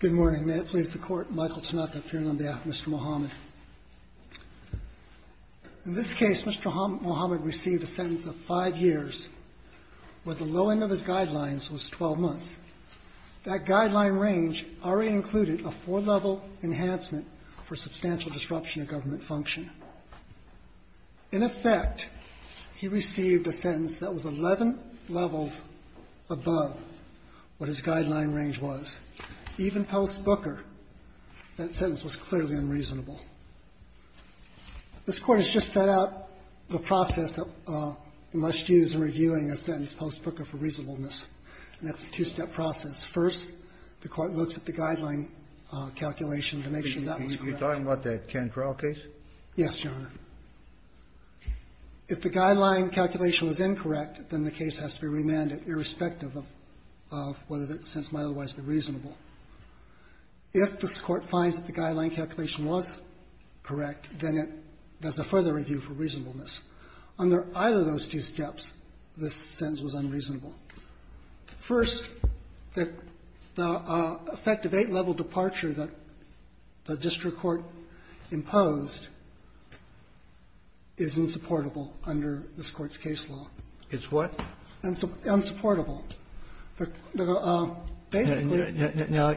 Good morning. May it please the Court, Michael Tanaka, Pirin Lumbia, Mr. Mohamed. In this case, Mr. Mohamed received a sentence of five years, where the low end of his guidelines was 12 months. That guideline range already included a four-level enhancement for substantial disruption of government function. In effect, he received a sentence that was 11 levels above what his guideline range was. Even post-Booker, that sentence was clearly unreasonable. This Court has just set out the process that we must use in reviewing a sentence post-Booker for reasonableness, and that's a two-step process. First, the Court looks at the guideline calculation to make sure that's correct. Kennedy, are you talking about the Cannes trial case? Yes, Your Honor. If the guideline calculation was incorrect, then the case has to be remanded, irrespective of whether the sentence might otherwise be reasonable. If this Court finds that the guideline calculation was correct, then it does a further review for reasonableness. Under either of those two steps, this sentence was unreasonable. First, the effect of eight-level departure that the district court imposed is insupportable under this Court's case law. It's what? Unsupportable. Basically the law basically doesn't support it. Now,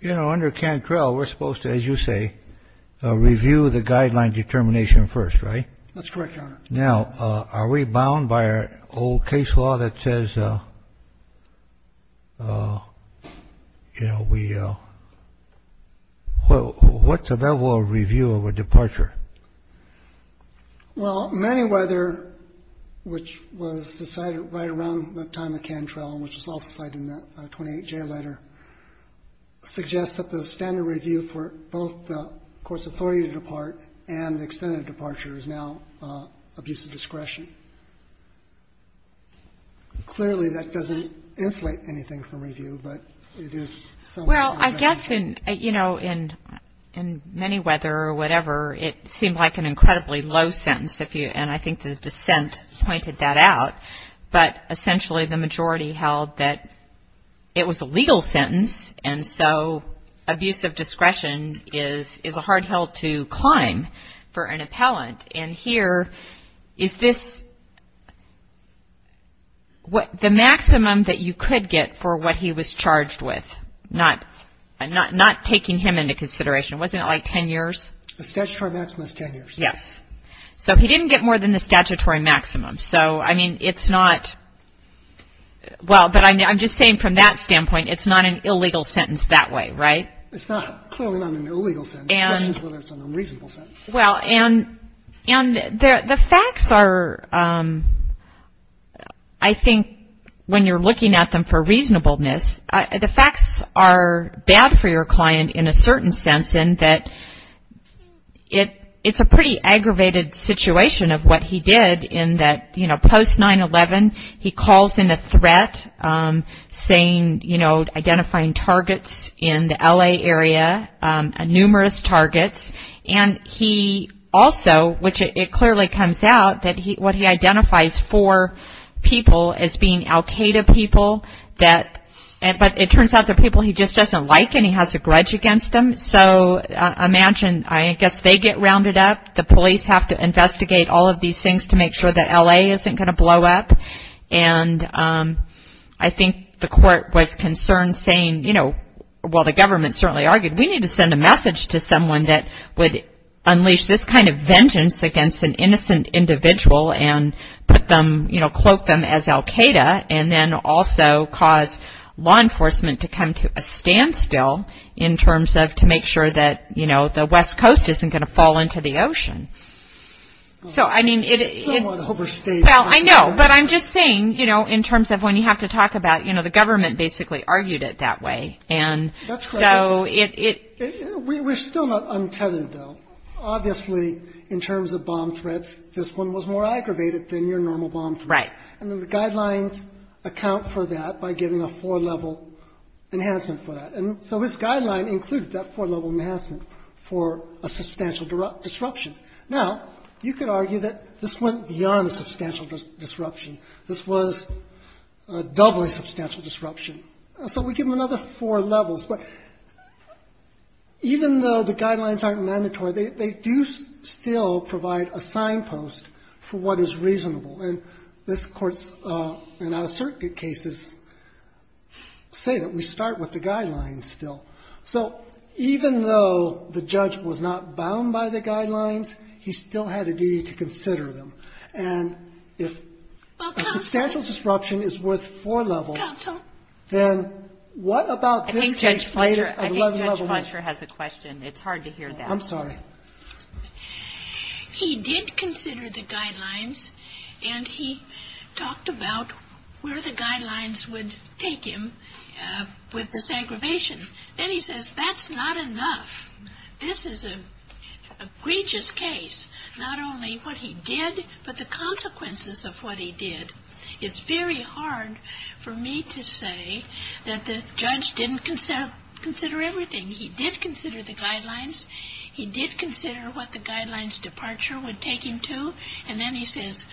you know, under Cannes trial, we're supposed to, as you say, review the guideline determination first, right? That's correct, Your Honor. Now, are we bound by our old case law that says, you know, we — what's a level of review of a departure? Well, many whether, which was decided right around the time of the Cannes trial, which is also cited in that 28J letter, suggests that the standard review for both the extent of departure is now abuse of discretion. Clearly, that doesn't insulate anything from review, but it is somewhat objective. Well, I guess in — you know, in many whether or whatever, it seemed like an incredibly low sentence if you — and I think the dissent pointed that out, but essentially the majority held that it was a legal sentence, and so abuse of discretion is a hard hill to climb for an appellant. And here, is this — the maximum that you could get for what he was charged with, not taking him into consideration, wasn't it like 10 years? The statutory maximum is 10 years. Yes. So he didn't get more than the statutory maximum. So, I mean, it's not — well, but I'm just saying from that standpoint, it's not an illegal sentence that way, right? It's not — clearly not an illegal sentence, whether it's an unreasonable sentence. Well, and the facts are — I think when you're looking at them for reasonableness, the facts are bad for your client in a certain sense in that it's a pretty aggravated situation of what he did in that, you know, post-9-11, he calls in a threat, saying, you know, identifying targets in the L.A. area, numerous targets, and he also, which it clearly comes out, that what he identifies for people as being Al-Qaeda people that — but it turns out they're people he just doesn't like, and he has a grudge against them. So imagine — I guess they get rounded up. The police have to investigate all of these things to make sure that L.A. isn't going to blow up. And I think the court was concerned, saying, you know — well, the government certainly argued, we need to send a message to someone that would unleash this kind of vengeance against an innocent individual and put them — you know, cloak them as Al-Qaeda and then also cause law enforcement to come to a standstill in terms of — to make sure that, you know, the West Coast isn't going to fall into the ocean. So, I mean, it is — It's somewhat overstated. Well, I know, but I'm just saying, you know, in terms of when you have to talk about — you know, the government basically argued it that way. And so it — We're still not untethered, though. Obviously, in terms of bomb threats, this one was more aggravated than your normal bomb threat. Right. And the guidelines account for that by giving a four-level enhancement for that. And so this guideline included that four-level enhancement for a substantial disruption. Now, you could argue that this went beyond a substantial disruption. This was a doubly substantial disruption. So we give them another four levels. But even though the guidelines aren't mandatory, they do still provide a signpost for what is reasonable. And this Court's — and our circuit cases say that we start with the guidelines still. So even though the judge was not bound by the guidelines, he still had a duty to consider them. And if a substantial disruption is worth four levels, then what about this case later at 11-level? I think Judge Fletcher has a question. It's hard to hear that. I'm sorry. He did consider the guidelines. And he talked about where the guidelines would take him with the segrevation. Then he says, that's not enough. This is an egregious case. Not only what he did, but the consequences of what he did. It's very hard for me to say that the judge didn't consider everything. He did consider the guidelines. He did consider what the guidelines departure would take him to. And then he says,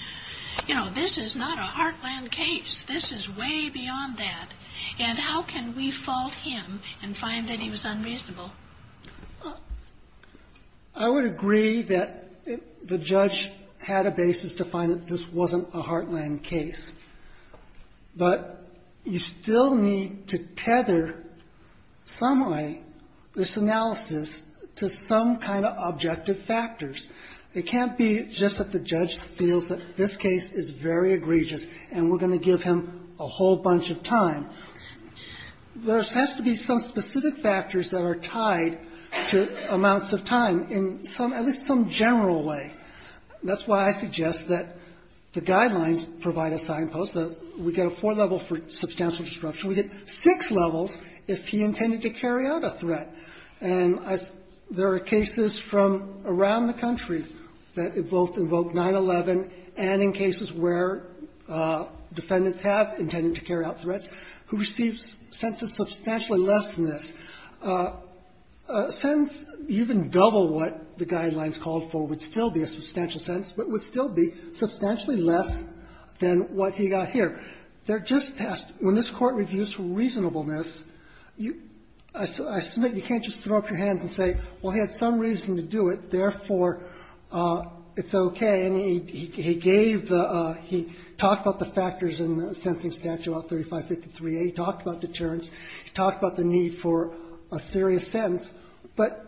you know, this is not a heartland case. This is way beyond that. And how can we fault him and find that he was unreasonable? I would agree that the judge had a basis to find that this wasn't a heartland case. But you still need to tether somehow this analysis to some kind of objective factors. It can't be just that the judge feels that this case is very egregious and we're going to give him a whole bunch of time. There has to be some specific factors that are tied to amounts of time in some, at least some general way. That's why I suggest that the guidelines provide a signpost. We get a four-level for substantial disruption. We get six levels if he intended to carry out a threat. And there are cases from around the country that both invoke 9-11 and in cases where defendants have intended to carry out threats who receive sentences substantially less than this. A sentence even double what the guidelines called for would still be a substantial sentence, but would still be substantially less than what he got here. They're just past. When this Court reviews reasonableness, I submit you can't just throw up your hands and say, well, he had some reason to do it, therefore it's okay. And he gave the, he talked about the factors in the Sensing Statute about 3553A. He talked about deterrence. He talked about the need for a serious sentence. But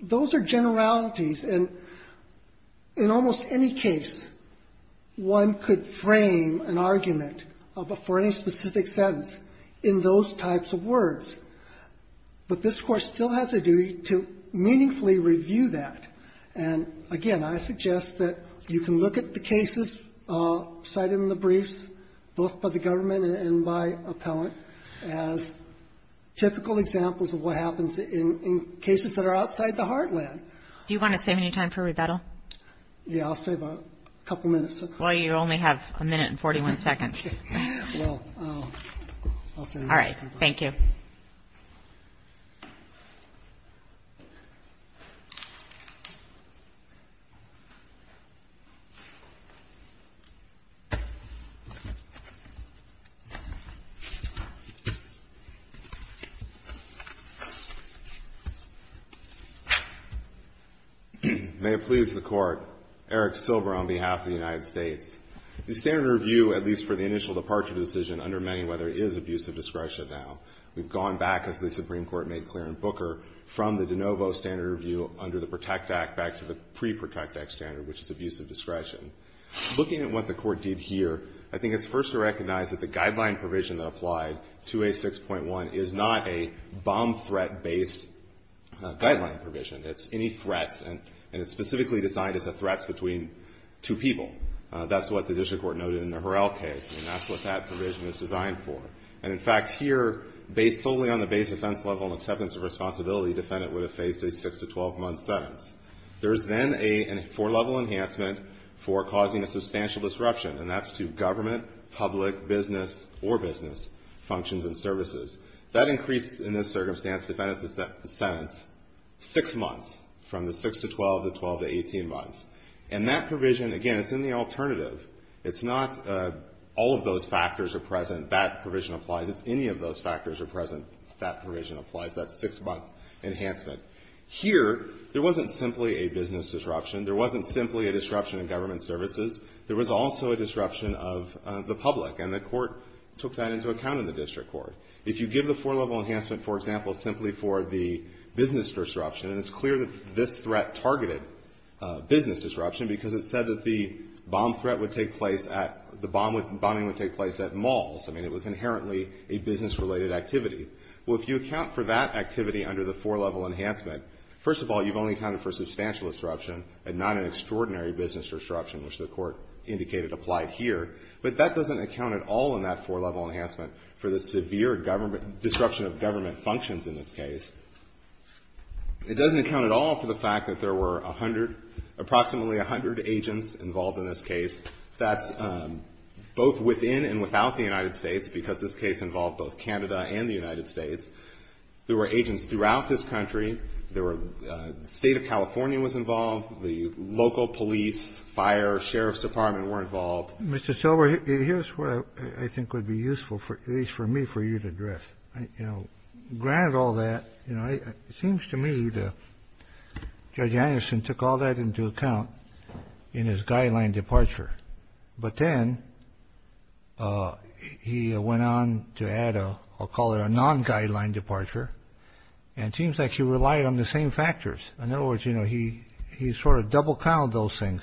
those are generalities. And in almost any case, one could frame an argument for any specific sentence in those types of words. But this Court still has a duty to meaningfully review that. And again, I suggest that you can look at the cases cited in the briefs, both by the government and by appellant, as typical examples of what happens in cases that are outside the heartland. Do you want to save any time for rebuttal? Yeah, I'll save a couple minutes. Well, you only have a minute and 41 seconds. Well, I'll save it. All right. Thank you. May it please the Court, Eric Silver on behalf of the United States. The standard review, at least for the initial departure decision under many, whether it is abuse of discretion now. We've gone back, as the Supreme Court made clear in Booker, from the de novo standard review under the Protect Act back to the pre-Protect Act standard, which is abuse of discretion. Looking at what the Court did here, I think it's first to recognize that the guideline provision that applied to A6.1 is not a bomb threat based guideline provision. It's any threats, and it's specifically designed as a threats between two people. That's what the district court noted in the Harrell case, and that's what that provision is designed for. And in fact, here, based solely on the base offense level and acceptance of responsibility, defendant would have faced a six to 12 month sentence. There's then a four level enhancement for causing a substantial disruption, and that's to government, public, business, or business functions and services. That increases, in this circumstance, defendant's sentence six months from the six to 12, the 12 to 18 months. And that provision, again, it's in the alternative. It's not all of those factors are present, that provision applies. It's any of those factors are present, that provision applies. That's six month enhancement. Here, there wasn't simply a business disruption. There wasn't simply a disruption in government services. There was also a disruption of the public, and the court took that into account in the district court. If you give the four level enhancement, for example, simply for the business disruption, and it's clear that this threat targeted business disruption because it said that the bomb threat would take place at, the bombing would take place at malls. I mean, it was inherently a business related activity. Well, if you account for that activity under the four level enhancement, first of all, you've only accounted for substantial disruption and not an extraordinary business disruption, which the court indicated applied here. But that doesn't account at all in that four level enhancement for the severe disruption of government functions in this case. It doesn't account at all for the fact that there were a hundred, approximately a hundred agents involved in this case. That's both within and without the United States because this case involved both Canada and the United States. There were agents throughout this country. There were, the State of California was involved. The local police, fire, sheriff's department were involved. Mr. Silber, here's what I think would be useful, at least for me, for you to address. You know, granted all that, you know, it seems to me that Judge Anderson took all that into account in his guideline departure. But then he went on to add a, I'll call it a non-guideline departure. And it seems like he relied on the same factors. In other words, you know, he sort of double count those things.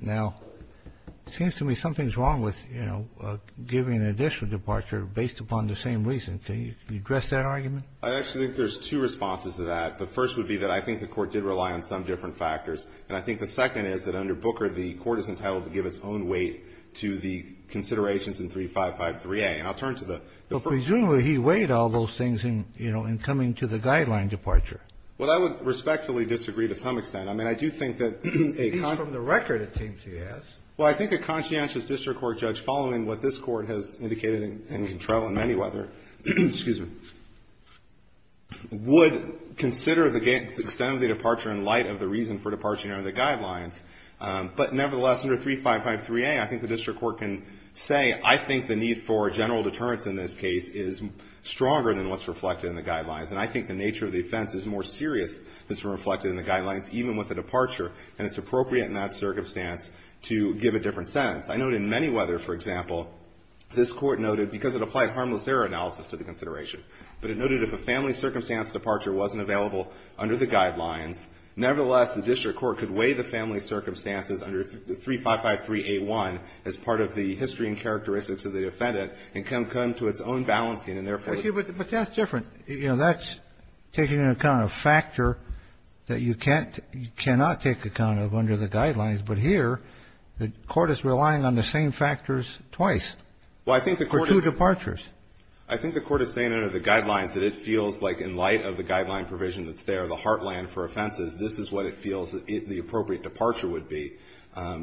Now, it seems to me something's wrong with, you know, giving additional departure based upon the same reason. Can you address that argument? I actually think there's two responses to that. The first would be that I think the court did rely on some different factors. And I think the second is that under Booker, the court is entitled to give its own weight to the considerations in 355-3A. And I'll turn to the first. But presumably, he weighed all those things in, you know, in coming to the guideline departure. Well, I would respectfully disagree to some extent. I mean, I do think that a con- At least from the record, it seems he has. Well, I think a conscientious district court judge following what this court has indicated and can travel in many weather would consider the extent of the departure in light of the reason for departure under the guidelines. But nevertheless, under 355-3A, I think the district court can say, I think the need for general deterrence in this case is stronger than what's reflected in the guidelines. And I think the nature of the offense is more serious than what's reflected in the guidelines, even with the departure, and it's appropriate in that circumstance to give a different sentence. I note in many weather, for example, this court noted, because it applied harmless error analysis to the consideration, but it noted if a family circumstance departure wasn't available under the guidelines, nevertheless, the district court could weigh the family circumstances under 355-3A1 as part of the history and characteristics of the defendant and come to its own balancing and therefore- You know, that's taking into account a factor that you can't, you cannot take account of under the guidelines. But here, the court is relying on the same factors twice. Well, I think the court is- For two departures. I think the court is saying under the guidelines that it feels like in light of the guideline provision that's there, the heartland for offenses, this is what it feels the appropriate departure would be.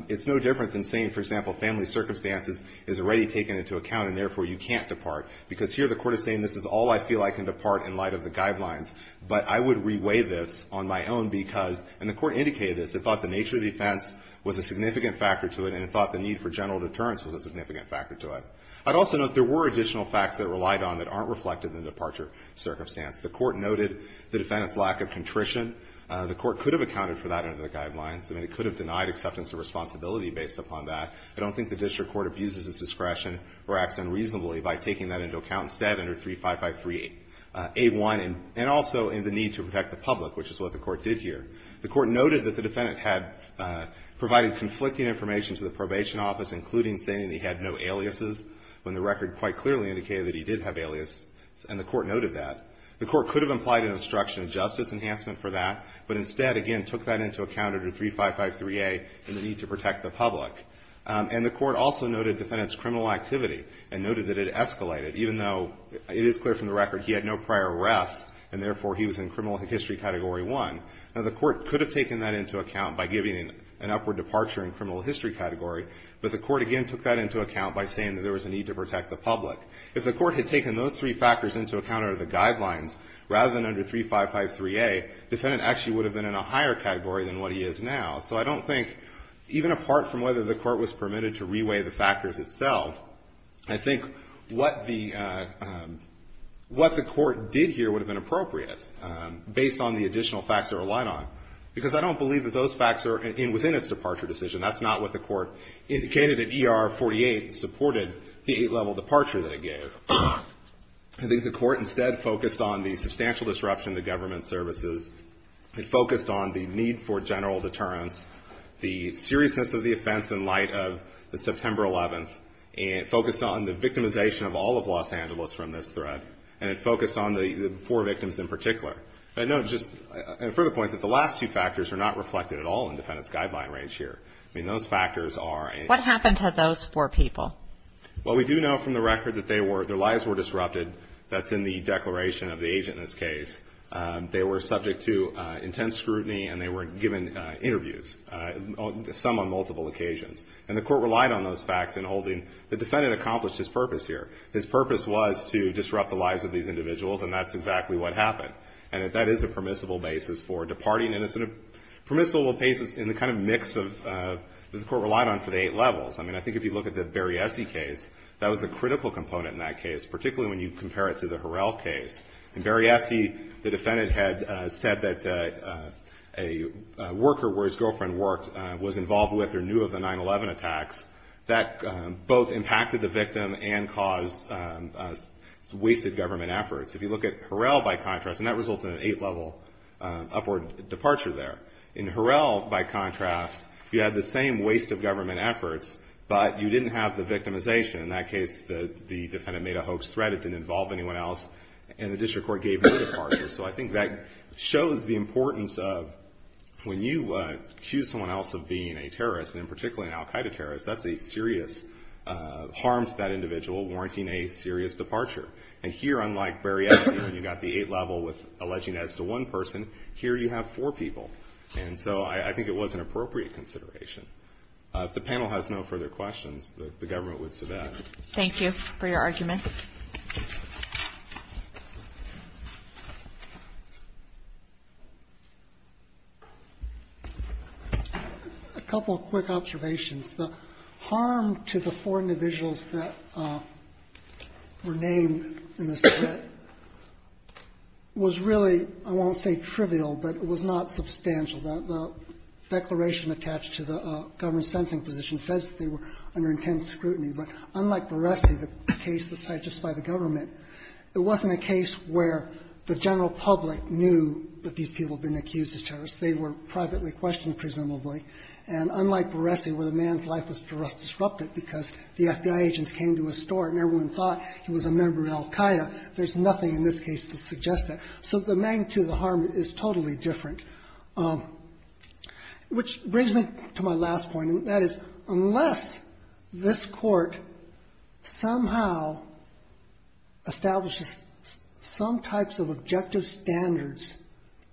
It's no different than saying, for example, family circumstances is already taken into account and therefore you can't depart. Because here the court is saying this is all I feel I can depart in light of the guidelines, but I would re-weigh this on my own because, and the court indicated this, it thought the nature of the offense was a significant factor to it and it thought the need for general deterrence was a significant factor to it. I'd also note there were additional facts that relied on that aren't reflected in the departure circumstance. The court noted the defendant's lack of contrition. The court could have accounted for that under the guidelines. I mean, it could have denied acceptance of responsibility based upon that. I don't think the district court abuses its discretion or acts unreasonably by taking that into account instead under 3553A1 and also in the need to protect the public, which is what the court did here. The court noted that the defendant had provided conflicting information to the probation office, including saying that he had no aliases when the record quite clearly indicated that he did have aliases, and the court noted that. The court could have implied an obstruction of justice enhancement for that, but instead, again, took that into account under 3553A in the need to protect the public. And the court also noted defendant's criminal activity and noted that it escalated, even though it is clear from the record he had no prior arrests and, therefore, he was in criminal history category one. Now, the court could have taken that into account by giving an upward departure in criminal history category, but the court, again, took that into account by saying that there was a need to protect the public. If the court had taken those three factors into account under the guidelines rather than under 3553A, defendant actually would have been in a higher category than what he is now. So I don't think, even apart from whether the court was permitted to reweigh the factors itself, I think what the court did here would have been appropriate, based on the additional facts it relied on, because I don't believe that those facts are within its departure decision. That's not what the court indicated in ER 48, supported the eight-level departure that it gave. So I think the court instead focused on the substantial disruption to government services, it focused on the need for general deterrence, the seriousness of the offense in light of the September 11th, and it focused on the victimization of all of Los Angeles from this threat, and it focused on the four victims in particular. But I note, just a further point, that the last two factors are not reflected at all in defendant's guideline range here. I mean, those factors are in What happened to those four people? Well, we do know from the record that their lives were disrupted. That's in the declaration of the agent in this case. They were subject to intense scrutiny, and they were given interviews, some on multiple occasions. And the court relied on those facts in holding, the defendant accomplished his purpose here. His purpose was to disrupt the lives of these individuals, and that's exactly what happened. And that is a permissible basis for departing, and it's a permissible basis in the kind of mix that the court relied on for the eight levels. I mean, I think if you look at the Berriese case, that was a critical component in that case, particularly when you compare it to the Harrell case. In Berriese, the defendant had said that a worker where his girlfriend worked was involved with or knew of the 9-11 attacks that both impacted the victim and caused wasted government efforts. If you look at Harrell, by contrast, and that results in an eight-level upward departure there. In Harrell, by contrast, you had the same waste of government efforts, but you didn't have the victimization. In that case, the defendant made a hoax threat. It didn't involve anyone else, and the district court gave no departure. So I think that shows the importance of when you accuse someone else of being a terrorist, and in particular an al-Qaeda terrorist, that's a serious harm to that individual, warranting a serious departure. And here, unlike Berriese, when you got the eight-level with alleging as to one person, here you have four people. And so I think it was an appropriate consideration. If the panel has no further questions, the government would submit. Thank you for your argument. A couple of quick observations. The harm to the four individuals that were named in this threat was really, I won't say trivial, but it was not substantial. The declaration attached to the government's sensing position says that they were under intense scrutiny. But unlike Berriese, the case that's cited just by the government, it wasn't a case where the general public knew that these people had been accused as terrorists. They were privately questioned, presumably. And unlike Berriese, where the man's life was disrupted because the FBI agents came to his store and everyone thought he was a member of al-Qaeda, there's nothing in this case to suggest that. So the magnitude of the harm is totally different. Which brings me to my last point, and that is, unless this Court somehow establishes some types of objective standards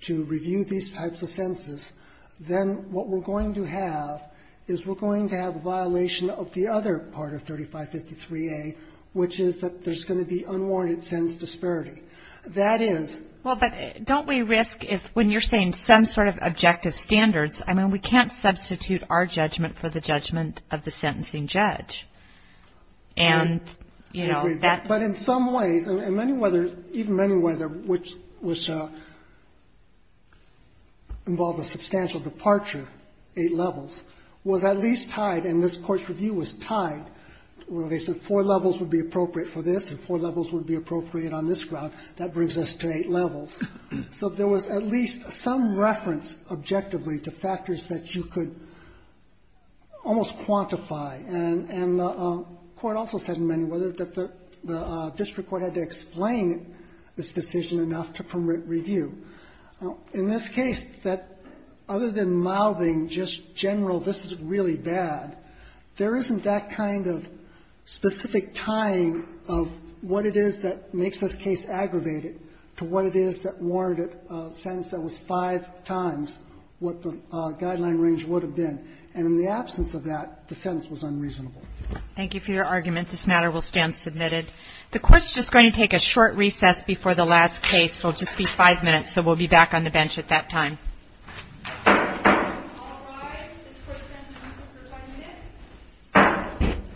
to review these types of senses, then what we're going to do is we're going to have to go back and look at the case. And what we're going to have is we're going to have a violation of the other part of 3553A, which is that there's going to be unwarranted sense disparity. That is — Well, but don't we risk if, when you're saying some sort of objective standards, I mean, we can't substitute our judgment for the judgment of the sentencing judge. And, you know, that's — There's no other case where the judgment of the sentencing judge, which involved a substantial departure, eight levels, was at least tied, and this Court's review was tied, where they said four levels would be appropriate for this and four levels would be appropriate on this ground. That brings us to eight levels. So there was at least some reference, objectively, to factors that you could almost quantify. And the Court also said in many ways that the district court had to explain this decision enough to permit review. In this case, that other than mouthing just general, this is really bad, there isn't that kind of specific tying of what it is that makes this case aggravated to what it is that warranted a sentence that was five times what the guideline range would have been, and in the absence of that, the sentence was unreasonable. Thank you for your argument. This matter will stand submitted. The Court's just going to take a short recess before the last case. We'll just be five minutes, so we'll be back on the bench at that time.